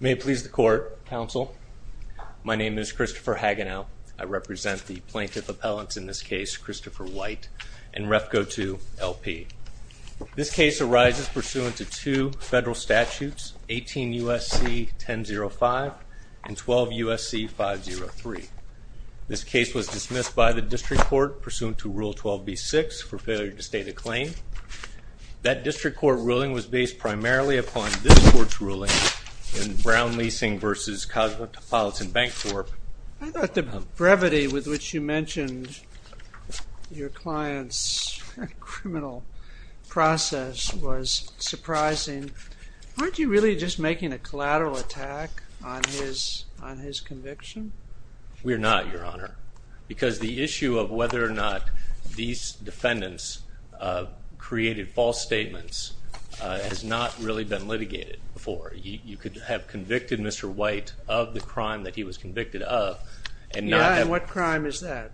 May it please the court, counsel. My name is Christopher Hagenow. I represent the plaintiff appellants in this case, Christopher White and Refco II, LP. This case arises pursuant to two federal statutes, 18 U.S.C. 1005 and 12 U.S.C. 503. This case was dismissed by the district court pursuant to Rule 12b-6 for failure to state a claim. That district court ruling was based primarily upon this court's ruling in Brown Leasing v. Cosmopolitan Bank Corp. I thought the brevity with which you mentioned your client's criminal process was surprising. Aren't you really just making a collateral attack on his conviction? We're not, Your Honor. Because the issue of whether or not these defendants created false statements has not really been litigated before. You could have convicted Mr. White of the crime that he was convicted of and not have. And what crime is that?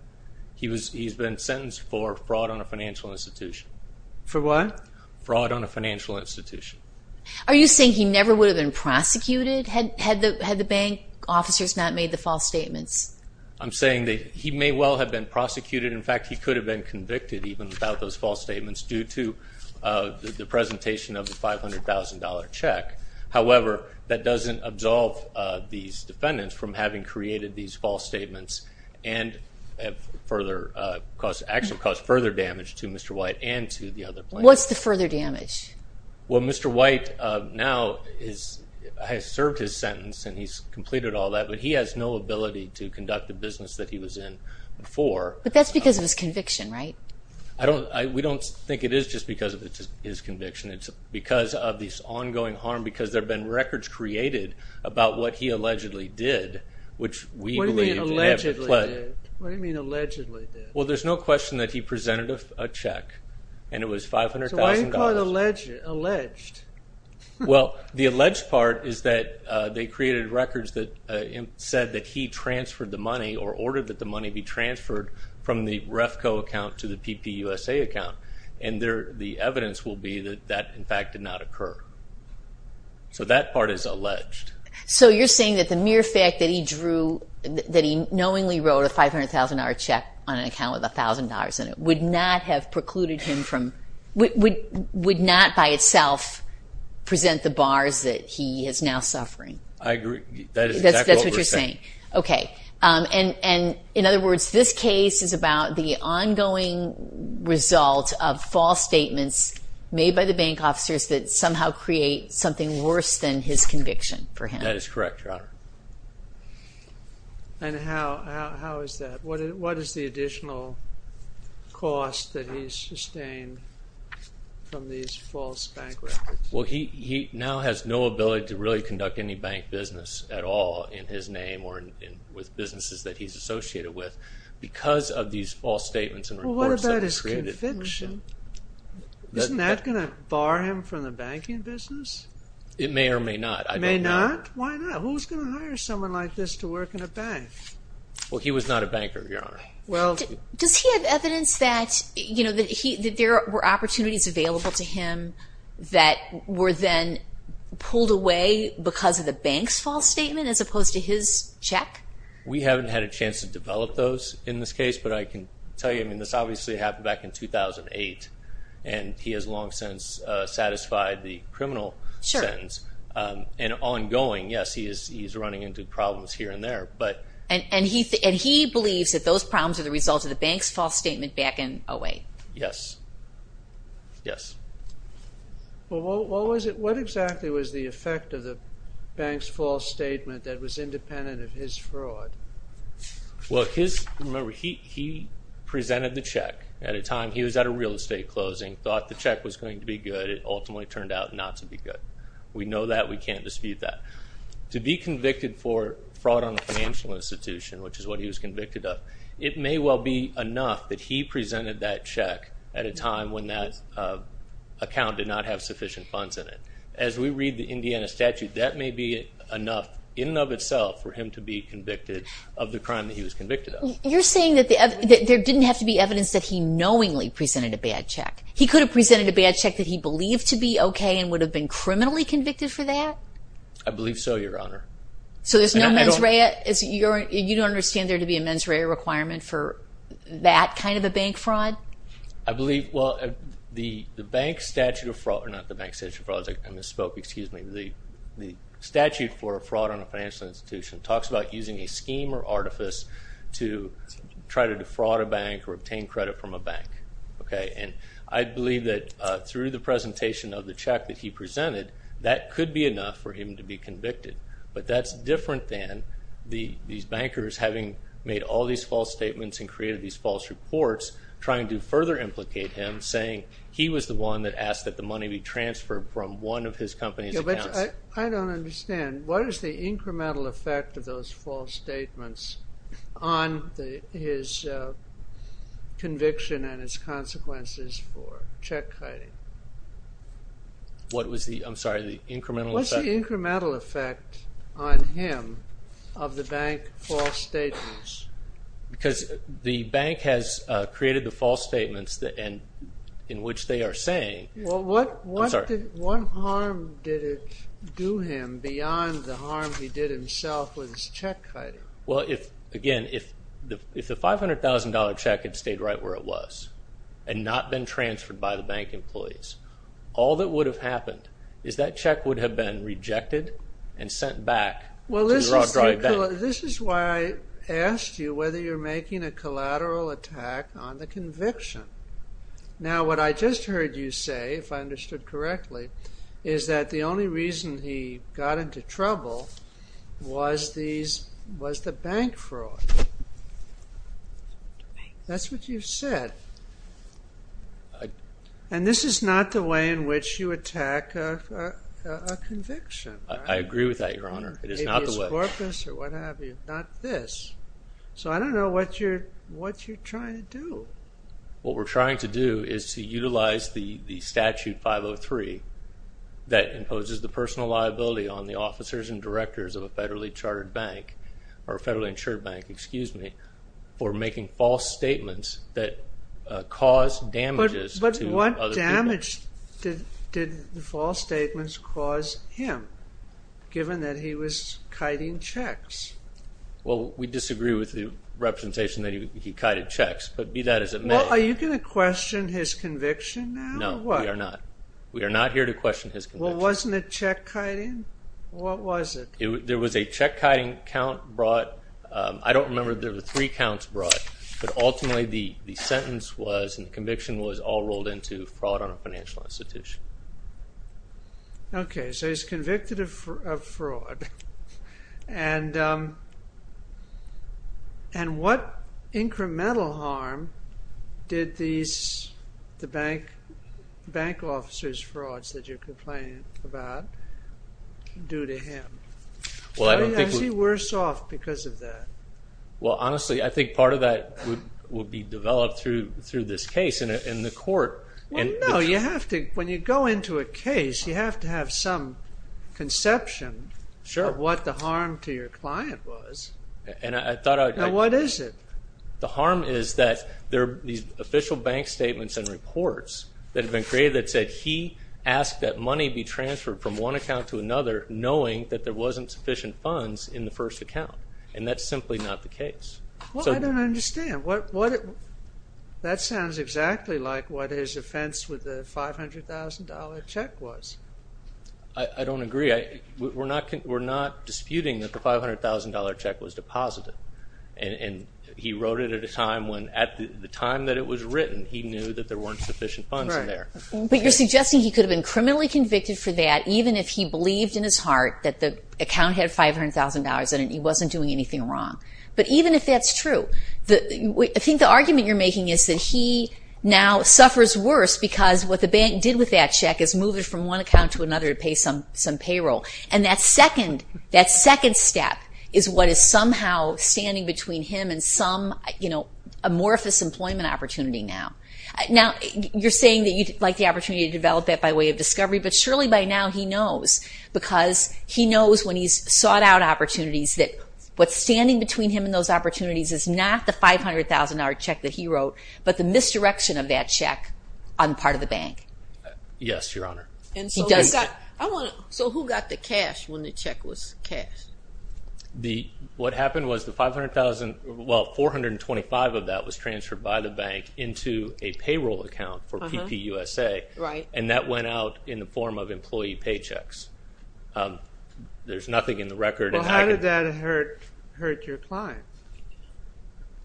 He's been sentenced for fraud on a financial institution. For what? Fraud on a financial institution. Are you saying he never would have been prosecuted had the bank officers not made the false statements? I'm saying that he may well have been prosecuted. In fact, he could have been convicted even without those false statements due to the presentation of the $500,000 check. However, that doesn't absolve these defendants from having created these false statements and actually caused further damage to Mr. White and to the other plaintiffs. What's the further damage? Well, Mr. White now has served his sentence and he's completed all that. But he has no ability to conduct the business that he was in before. But that's because of his conviction, right? We don't think it is just because of his conviction. It's because of this ongoing harm because there have been records created about what he allegedly did, which we believe he never pledged. What do you mean allegedly did? Well, there's no question that he presented a check and it was $500,000. So why do you call it alleged? Well, the alleged part is that they created records that said that he transferred the money or ordered that the money be transferred from the REFCO account to the PPUSA account. And the evidence will be that that, in fact, did not occur. So that part is alleged. So you're saying that the mere fact that he drew, that he knowingly wrote a $500,000 check on an account with $1,000 in it would not have precluded him from, would not by itself present the bars that he is now suffering. I agree. That is exactly what we're saying. That's what you're saying. Okay. And in other words, this case is about the ongoing result of false statements made by the bank officers that somehow create something worse than his conviction for him. That is correct, Your Honor. And how is that? What is the additional cost that he's sustained from these false bank records? Well, he now has no ability to really conduct any bank business at all in his name with businesses that he's associated with because of these false statements and reports that were created. Well, what about his conviction? Isn't that gonna bar him from the banking business? It may or may not. It may not? Why not? Who's gonna hire someone like this to work in a bank? Well, he was not a banker, Your Honor. Well, does he have evidence that there were opportunities available to him that were then pulled away because of the bank's false statement as opposed to his check? We haven't had a chance to develop those in this case, but I can tell you, I mean, this obviously happened back in 2008, and he has long since satisfied the criminal sentence. And ongoing, yes, he is running into problems here and there, but. And he believes that those problems are the result of the bank's false statement back in 08. Yes. Yes. Well, what exactly was the effect of the bank's false statement that was independent of his fraud? Well, his, remember, he presented the check at a time he was at a real estate closing, thought the check was going to be good. It ultimately turned out not to be good. We know that, we can't dispute that. To be convicted for fraud on a financial institution, which is what he was convicted of, it may well be enough that he presented that check at a time when that account did not have sufficient funds in it. As we read the Indiana statute, that may be enough in and of itself for him to be convicted of the crime that he was convicted of. You're saying that there didn't have to be evidence that he knowingly presented a bad check. He could have presented a bad check that he believed to be okay and would have been criminally convicted for that? I believe so, Your Honor. So there's no mens rea? You don't understand there to be a mens rea requirement for that kind of a bank fraud? I believe, well, the bank statute of fraud, or not the bank statute of fraud, I misspoke, excuse me. The statute for a fraud on a financial institution talks about using a scheme or artifice to try to defraud a bank or obtain credit from a bank. And I believe that through the presentation of the check that he presented, that could be enough for him to be convicted. But that's different than these bankers having made all these false statements and created these false reports trying to further implicate him, saying he was the one that asked that the money be transferred from one of his company's accounts. I don't understand. What is the incremental effect of those false statements on his conviction and its consequences for check hiding? What was the, I'm sorry, the incremental effect? What's the incremental effect on him of the bank false statements? Because the bank has created the false statements in which they are saying. I'm sorry. What harm did it do him beyond the harm he did himself with his check hiding? Well, again, if the $500,000 check had stayed right where it was and not been transferred by the bank employees, all that would have happened is that check would have been rejected and sent back to the Rothschild bank. This is why I asked you whether you're making a collateral attack on the conviction. Now, what I just heard you say, if I understood correctly, is that the only reason he got into trouble was the bank fraud. That's what you've said. And this is not the way in which you attack a conviction. I agree with that, Your Honor. It is not the way. Maybe it's corpus or what have you, not this. So I don't know what you're trying to do. What we're trying to do is to utilize the statute 503 that imposes the personal liability on the officers and directors of a federally chartered bank or a federally insured bank, excuse me, for making false statements that cause damages to other people. But what damage did the false statements cause him given that he was kiting checks? Well, we disagree with the representation that he kited checks, but be that as it may. Well, are you gonna question his conviction now? No, we are not. We are not here to question his conviction. Well, wasn't it check kiting? What was it? There was a check kiting count brought. I don't remember if there were three counts brought, but ultimately the sentence was, and the conviction was, all rolled into fraud on a financial institution. Okay, so he's convicted of fraud. And what incremental harm did the bank officer's frauds that you're complaining about do to him? Well, I don't think- How does he worse off because of that? Well, honestly, I think part of that would be developed through this case in the court. No, you have to, when you go into a case, you have to have some conception of what the harm to your client was. And I thought I'd- Now, what is it? The harm is that there are these official bank statements and reports that have been created that said he asked that money be transferred from one account to another, knowing that there wasn't sufficient funds in the first account. And that's simply not the case. Well, I don't understand. That sounds exactly like what his offense with the $500,000 check was. I don't agree. We're not disputing that the $500,000 check was deposited. And he wrote it at a time when, at the time that it was written, he knew that there weren't sufficient funds in there. But you're suggesting he could have been criminally convicted for that, even if he believed in his heart that the account had $500,000 in it, he wasn't doing anything wrong. But even if that's true, I think the argument you're making is that he now suffers worse because what the bank did with that check is move it from one account to another to pay some payroll. And that second step is what is somehow standing between him and some amorphous employment opportunity now. Now, you're saying that you'd like the opportunity to develop that by way of discovery, but surely by now he knows, because he knows when he's sought out opportunities that what's standing between him and those opportunities is not the $500,000 check that he wrote, but the misdirection of that check on part of the bank. Yes, Your Honor. And so who got the cash when the check was cashed? The, what happened was the 500,000, well, 425 of that was transferred by the bank into a payroll account for PPUSA. Right. And that went out in the form of employee paychecks. There's nothing in the record. Well, how did that hurt your client?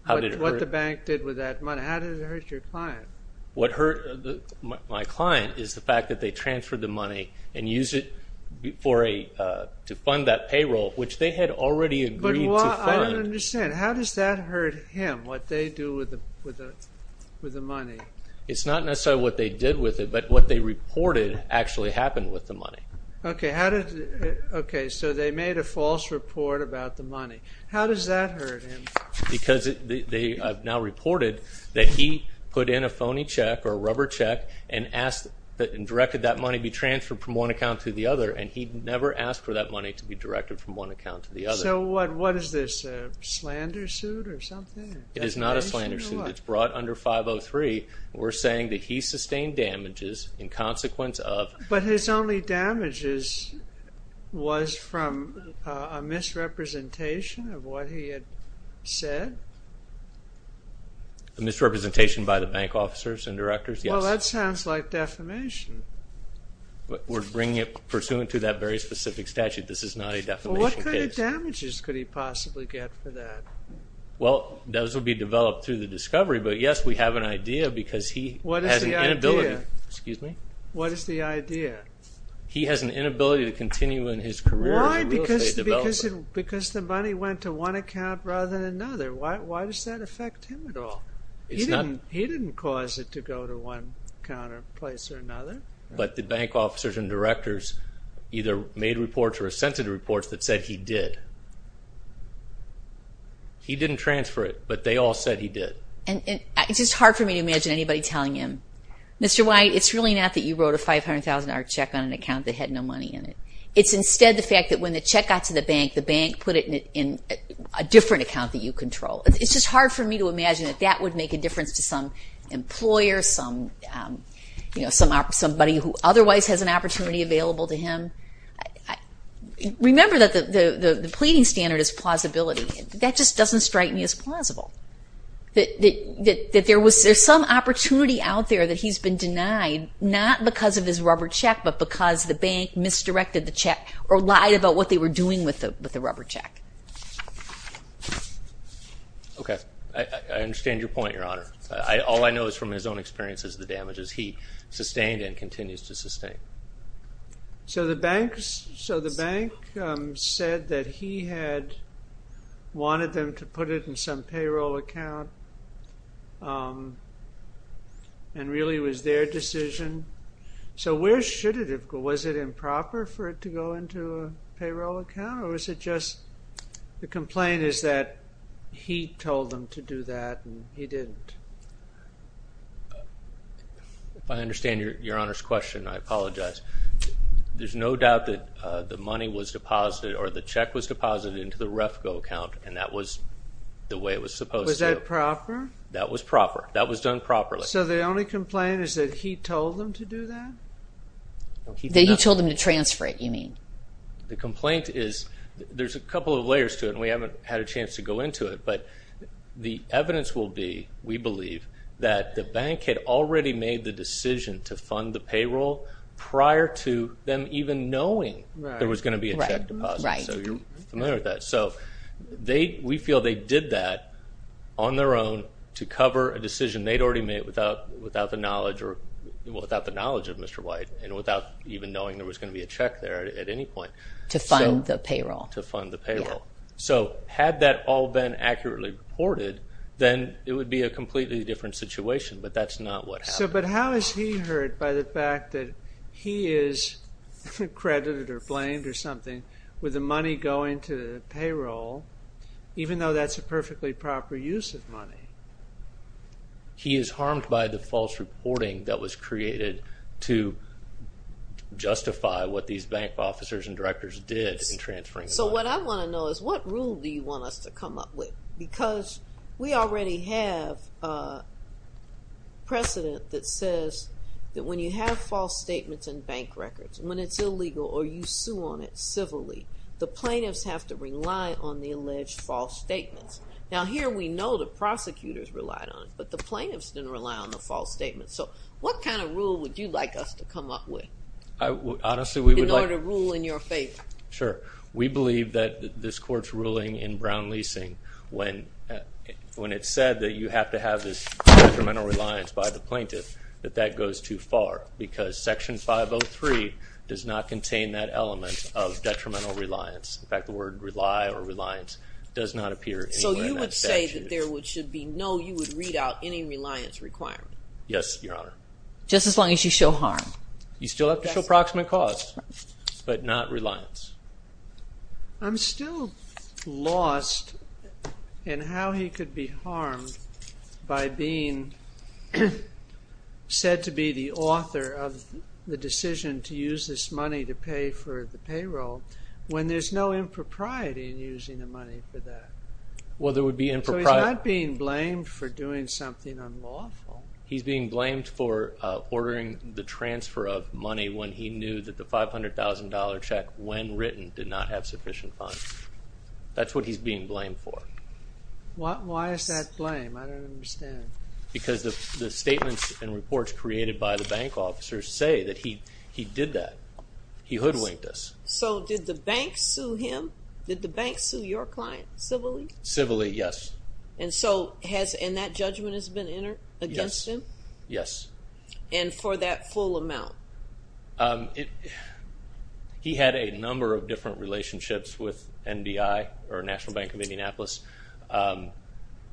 How did it hurt? What the bank did with that money? How did it hurt your client? What hurt my client is the fact that they transferred the money and used it for a, to fund that payroll, which they had already agreed to fund. But I don't understand. How does that hurt him? What they do with the money? It's not necessarily what they did with it, but what they reported actually happened with the money. Okay, how did, okay. So they made a false report about the money. How does that hurt him? Because they have now reported that he put in a phony check or a rubber check and asked that, and directed that money be transferred from one account to the other. And he never asked for that money to be directed from one account to the other. So what is this, a slander suit or something? It is not a slander suit. It's brought under 503. We're saying that he sustained damages in consequence of. But his only damages was from a misrepresentation of what he had said. A misrepresentation by the bank officers and directors, yes. Well, that sounds like defamation. We're bringing it pursuant to that very specific statute. This is not a defamation case. Well, what kind of damages could he possibly get for that? Well, those will be developed through the discovery. But yes, we have an idea because he has an inability. What is the idea? Excuse me? What is the idea? He has an inability to continue in his career as a real estate developer. Because the money went to one account rather than another. Why does that affect him at all? He didn't cause it to go to one counter place or another. But the bank officers and directors either made reports or assented reports that said he did. He didn't transfer it, but they all said he did. And it's just hard for me to imagine anybody telling him, Mr. White, it's really not that you wrote a $500,000 check on an account that had no money in it. It's instead the fact that when the check got to the bank, the bank put it in a different account that you control. It's just hard for me to imagine that that would make a difference to some employer, somebody who otherwise has an opportunity available to him. Remember that the pleading standard is plausibility. That just doesn't strike me as plausible. There's some opportunity out there that he's been denied, not because of his rubber check, but because the bank misdirected the check or lied about what they were doing with the rubber check. Okay, I understand your point, Your Honor. All I know is from his own experience is the damages he sustained and continues to sustain. So the bank said that he had wanted them to put it in some payroll account and really it was their decision. So where should it have gone? Was it improper for it to go into a payroll account or was it just the complaint is that he told them to do that and he didn't? If I understand Your Honor's question, I apologize. There's no doubt that the money was deposited or the check was deposited into the REFCO account and that was the way it was supposed to. Was that proper? That was proper. That was done properly. So the only complaint is that he told them to do that? That he told them to transfer it, you mean? The complaint is, there's a couple of layers to it and we haven't had a chance to go into it, but the evidence will be, we believe, that the bank had already made the decision to fund the payroll prior to them even knowing there was going to be a check deposit. So you're familiar with that. So we feel they did that on their own to cover a decision they'd already made without the knowledge of Mr. White and without even knowing there was going to be a check there at any point. To fund the payroll. To fund the payroll. So had that all been accurately reported, then it would be a completely different situation, but that's not what happened. But how is he hurt by the fact that he is credited or blamed or something with the money going to the payroll, even though that's a perfectly proper use of money? He is harmed by the false reporting that was created to justify what these bank officers and directors did in transferring the money. So what I want to know is, what rule do you want us to come up with? Because we already have a precedent that says that when you have false statements in bank records, when it's illegal or you sue on it civilly, the plaintiffs have to rely on the alleged false statements. Now here we know the prosecutors relied on it, but the plaintiffs didn't rely on the false statements. So what kind of rule would you like us to come up with? Honestly, we would like- In order to rule in your favor. Sure. We believe that this court's ruling in Brown leasing, when it said that you have to have this detrimental reliance by the plaintiff, that that goes too far because section 503 does not contain that element of detrimental reliance. In fact, the word rely or reliance does not appear anywhere in that statute. So you would say that there should be no, you would read out any reliance requirement? Yes, Your Honor. Just as long as you show harm. You still have to show approximate cause, but not reliance. I'm still lost in how he could be harmed by being said to be the author of the decision to use this money to pay for the payroll, when there's no impropriety in using the money for that. Well, there would be impropri- So he's not being blamed for doing something unlawful. He's being blamed for ordering the transfer of money when he knew that the $500,000 check, when written, did not have sufficient funds. That's what he's being blamed for. Why is that blame? I don't understand. Because the statements and reports created by the bank officers say that he did that. He hoodwinked us. So did the bank sue him? Did the bank sue your client civilly? Civilly, yes. And so has, and that judgment has been entered against him? Yes. And for that full amount? He had a number of different relationships with NBI, or National Bank of Indianapolis.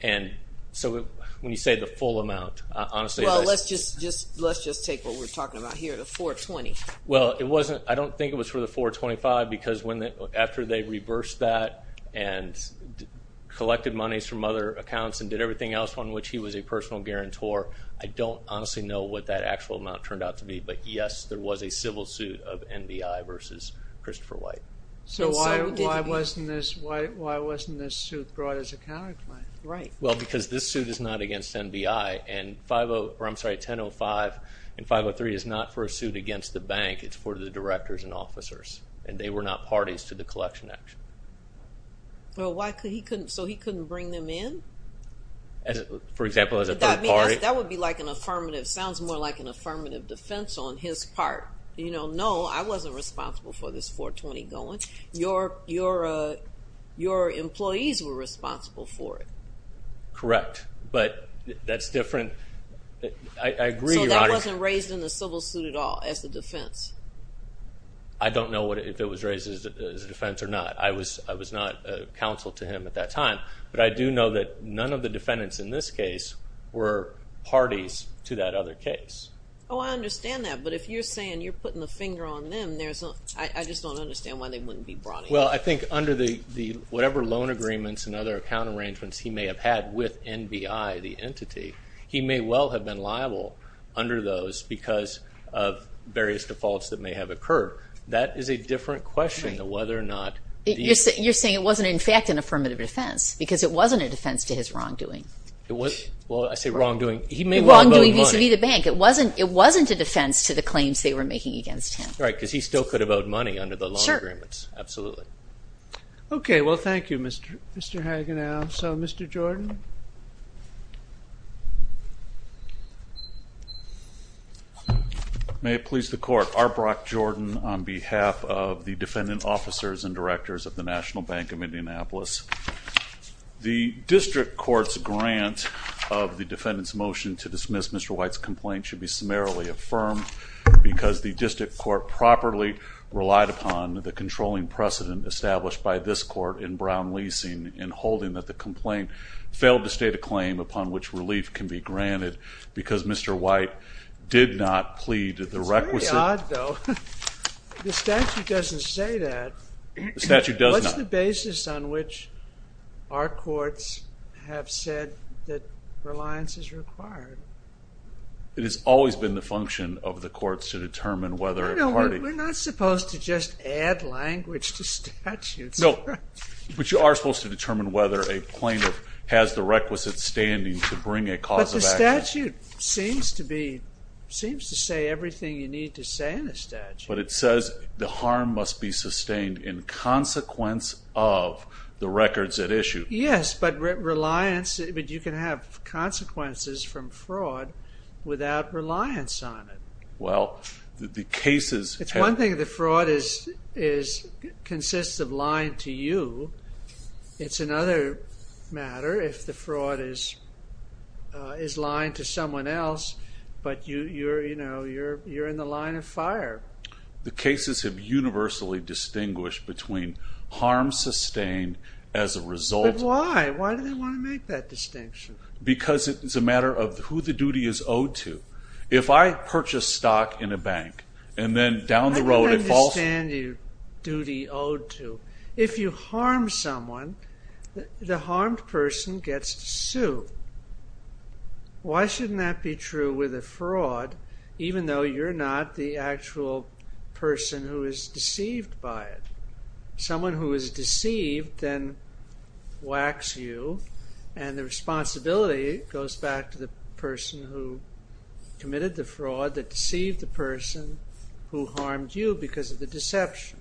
And so when you say the full amount, honestly- Well, let's just take what we're talking about here, the 420. Well, it wasn't, I don't think it was for the 425, because after they reversed that and collected monies from other accounts and did everything else on which he was a personal guarantor, I don't honestly know what that actual amount turned out to be, but yes, there was a civil suit of NBI versus Christopher White. So why wasn't this suit brought as a counterclaim? Right. Well, because this suit is not against NBI, and 50, or I'm sorry, 1005 and 503 is not for a suit against the bank, it's for the directors and officers, and they were not parties to the collection action. Well, why could he couldn't, so he couldn't bring them in? For example, as a third party? That would be like an affirmative, sounds more like an affirmative defense on his part. You know, no, I wasn't responsible for this 420 going. Correct. But that's different, I agree, Your Honor. It wasn't raised in the civil suit at all as a defense? I don't know if it was raised as a defense or not. I was not counsel to him at that time, but I do know that none of the defendants in this case were parties to that other case. Oh, I understand that, but if you're saying you're putting the finger on them, I just don't understand why they wouldn't be brought in. Well, I think under whatever loan agreements and other account arrangements he may have had with NBI, the entity, he may well have been liable under those because of various defaults that may have occurred. That is a different question to whether or not... You're saying it wasn't, in fact, an affirmative defense because it wasn't a defense to his wrongdoing. It was, well, I say wrongdoing. He may well have owed money. Wrongdoing vis-a-vis the bank. It wasn't a defense to the claims they were making against him. Right, because he still could have owed money under the loan agreements, absolutely. Okay, well, thank you, Mr. Hagenau. So, Mr. Jordan? May it please the Court, Arbrock Jordan on behalf of the defendant officers and directors of the National Bank of Indianapolis. The district court's grant of the defendant's motion to dismiss Mr. White's complaint should be summarily affirmed because the district court properly relied upon the controlling precedent established by this court in Brown leasing in holding that the complaint failed to state a claim upon which relief can be granted because Mr. White did not plead the requisite. It's very odd, though. The statute doesn't say that. The statute does not. What's the basis on which our courts have said that reliance is required? It has always been the function of the courts to determine whether a party. We're not supposed to just add language to statutes. No, but you are supposed to determine whether a plaintiff has the requisite standing to bring a cause of action. The statute seems to say everything you need to say in a statute. But it says the harm must be sustained in consequence of the records at issue. Yes, but you can have consequences from fraud without reliance on it. Well, the cases have- It's one thing if the fraud consists of lying to you. It's another matter if the fraud is lying to someone else, but you're in the line of fire. The cases have universally distinguished between harm sustained as a result- But why? Why do they want to make that distinction? Because it is a matter of who the duty is owed to. If I purchase stock in a bank, and then down the road- How can I understand your duty owed to? If you harm someone, the harmed person gets to sue. Why shouldn't that be true with a fraud, even though you're not the actual person who is deceived by it? Someone who is deceived then whacks you, and the responsibility goes back to the person who committed the fraud that deceived the person who harmed you because of the deception.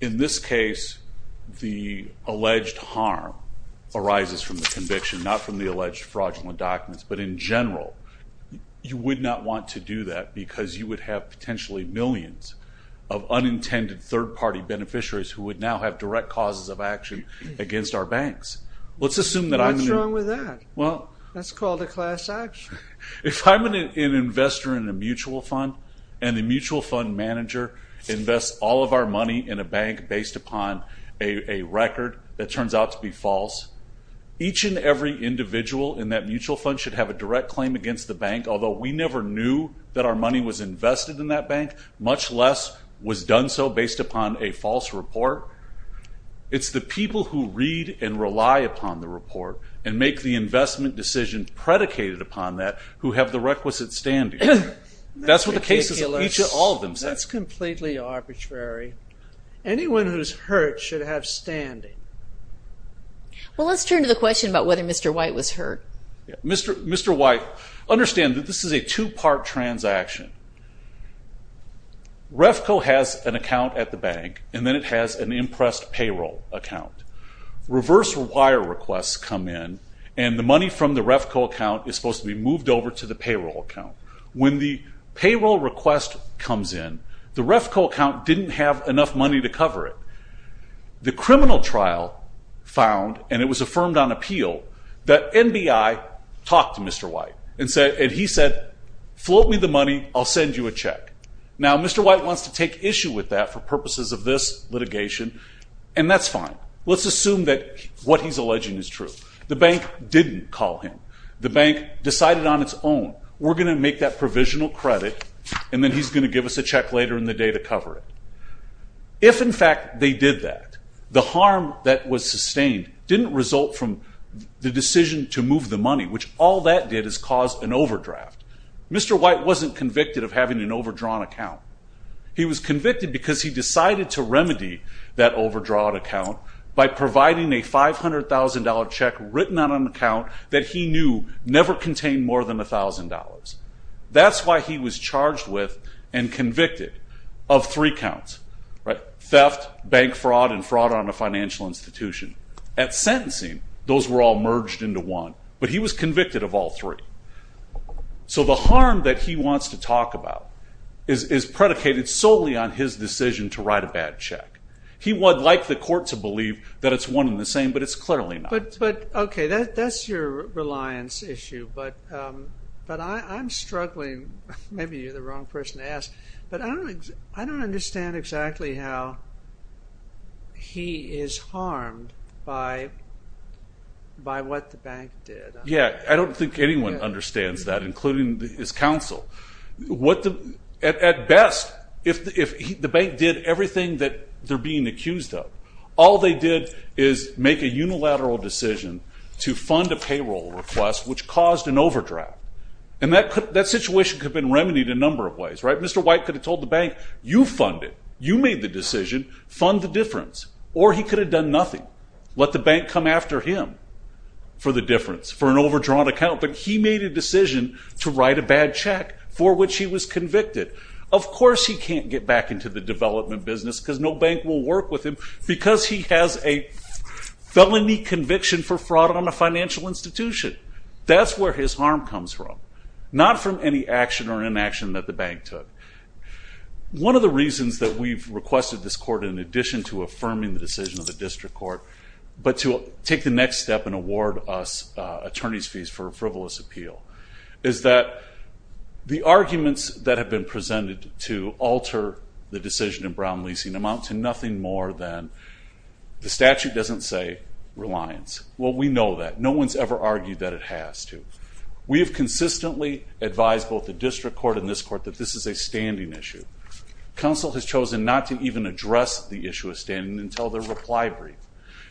In this case, the alleged harm arises from the conviction, not from the alleged fraudulent documents, but in general, you would not want to do that because you would have potentially millions of unintended third-party beneficiaries who would now have direct causes of action against our banks. Let's assume that I'm- What's wrong with that? Well- That's called a class action. If I'm an investor in a mutual fund, and the mutual fund manager invests all of our money in a bank based upon a record that turns out to be false, each and every individual in that mutual fund should have a direct claim against the bank, although we never knew that our money was invested in that bank, much less was done so based upon a false report. It's the people who read and rely upon the report and make the investment decision predicated upon that who have the requisite standing. That's what the cases of each of all of them say. That's completely arbitrary. Anyone who's hurt should have standing. Well, let's turn to the question about whether Mr. White was hurt. Mr. White, understand that this is a two-part transaction. REFCO has an account at the bank, and then it has an impressed payroll account. Reverse wire requests come in, and the money from the REFCO account is supposed to be moved over to the payroll account. When the payroll request comes in, the REFCO account didn't have enough money to cover it. The criminal trial found, and it was affirmed on appeal, that NBI talked to Mr. White, and he said, float me the money, I'll send you a check. Now, Mr. White wants to take issue with that for purposes of this litigation, and that's fine. Let's assume that what he's alleging is true. The bank didn't call him. The bank decided on its own, we're going to make that provisional credit, and then he's going to give us a check later in the day to cover it. If, in fact, they did that, the harm that was sustained didn't result from the decision to move the money, which all that did is cause an overdraft. Mr. White wasn't convicted of having an overdrawn account. He was convicted because he decided to remedy that overdrawn account by providing a $500,000 check written on an account that he knew never contained more than $1,000. That's why he was charged with and convicted of three counts, theft, bank fraud, and fraud on a financial institution. At sentencing, those were all merged into one, but he was convicted of all three. So the harm that he wants to talk about is predicated solely on his decision to write a bad check. He would like the court to believe that it's one and the same, but it's clearly not. But, OK, that's your reliance issue, but I'm struggling. Maybe you're the wrong person to ask, but I don't understand exactly how he is harmed by what the bank did. Yeah, I don't think anyone understands that, including his counsel. At best, if the bank did everything that they're being accused of, all they did is make a unilateral decision to fund a payroll request, which caused an overdraft. And that situation could have been remedied in a number of ways. Mr. White could have told the bank, you fund it. You made the decision. Fund the difference. Or he could have done nothing. Let the bank come after him for the difference, for an overdrawn account. But he made a decision to write a bad check, for which he was convicted. Of course he can't get back into the development business, because no bank will work with him, because he has a felony conviction for fraud on a financial institution. That's where his harm comes from, not from any action or inaction that the bank took. One of the reasons that we've requested this court, in addition to affirming the decision of the district court, but to take the next step and award us attorney's fees for frivolous appeal, is that the arguments that have been presented to alter the decision in Brown leasing amount to nothing more than, the statute doesn't say reliance. Well, we know that. No one's ever argued that it has to. We have consistently advised both the district court and this court that this is a standing issue. Counsel has chosen not to even address the issue of standing until their reply brief.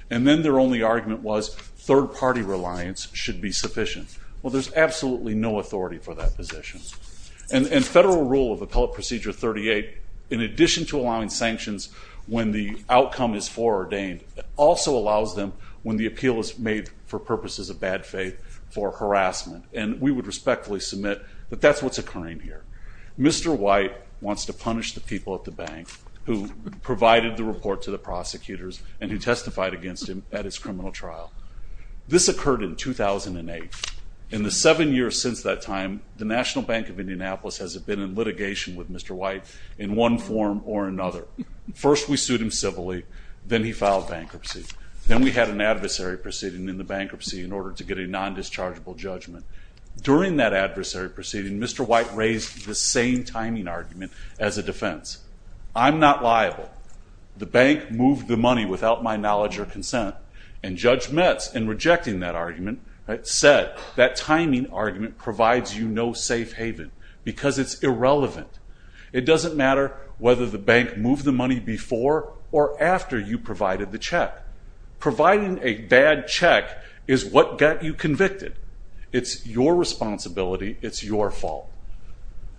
And then their only argument was, third party reliance should be sufficient. Well, there's absolutely no authority for that position. And federal rule of appellate procedure 38, in addition to allowing sanctions when the outcome is foreordained, also allows them when the appeal is made for purposes of bad faith for harassment. And we would respectfully submit that that's what's occurring here. Mr. White wants to punish the people at the bank who provided the report to the prosecutors and who testified against him at his criminal trial. This occurred in 2008. In the seven years since that time, the National Bank of Indianapolis has been in litigation with Mr. White in one form or another. First, we sued him civilly. Then he filed bankruptcy. Then we had an adversary proceeding in the bankruptcy in order to get a non-dischargeable judgment. During that adversary proceeding, Mr. White raised the same timing argument as a defense. I'm not liable. The bank moved the money without my knowledge or consent. And Judge Metz, in rejecting that argument, said that timing argument provides you no safe haven because it's irrelevant. It doesn't matter whether the bank moved the money before or after you provided the check. Providing a bad check is what got you convicted. It's your responsibility. It's your fault.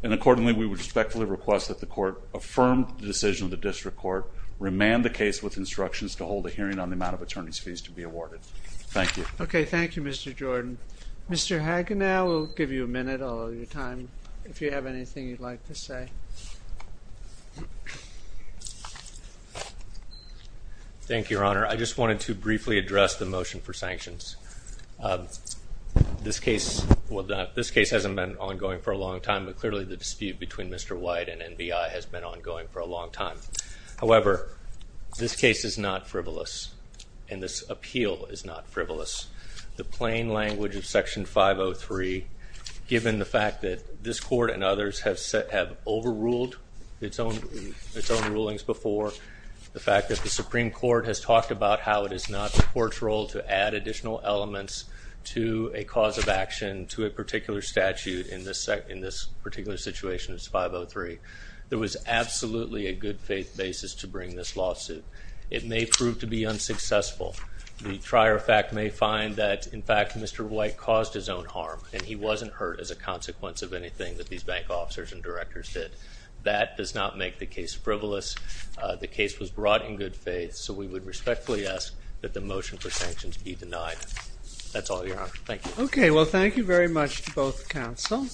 And accordingly, we would respectfully request that the court affirm the decision of the district court, remand the case with instructions to hold a hearing on the amount of attorney's fees to be awarded. Thank you. OK, thank you, Mr. Jordan. Mr. Hagenow, we'll give you a minute. I'll owe you time. If you have anything you'd like to say. Thank you, Your Honor. I just wanted to briefly address the motion for sanctions. This case hasn't been ongoing for a long time. But clearly, the dispute between Mr. White and NBI has been ongoing for a long time. However, this case is not frivolous. And this appeal is not frivolous. The plain language of Section 503, given the fact that this court and others have overruled its own rulings before, the fact that the Supreme Court has talked about how it is not the court's role to add additional elements to a cause of action to a particular statute in this particular situation, it's 503. There was absolutely a good faith basis to bring this lawsuit. It may prove to be unsuccessful. The trier of fact may find that, in fact, Mr. White caused his own harm. And he wasn't hurt as a consequence of anything that these bank officers and directors did. That does not make the case frivolous. The case was brought in good faith. So we would respectfully ask that the motion for sanctions be denied. That's all, Your Honor. Thank you. OK, well, thank you very much to both counsels.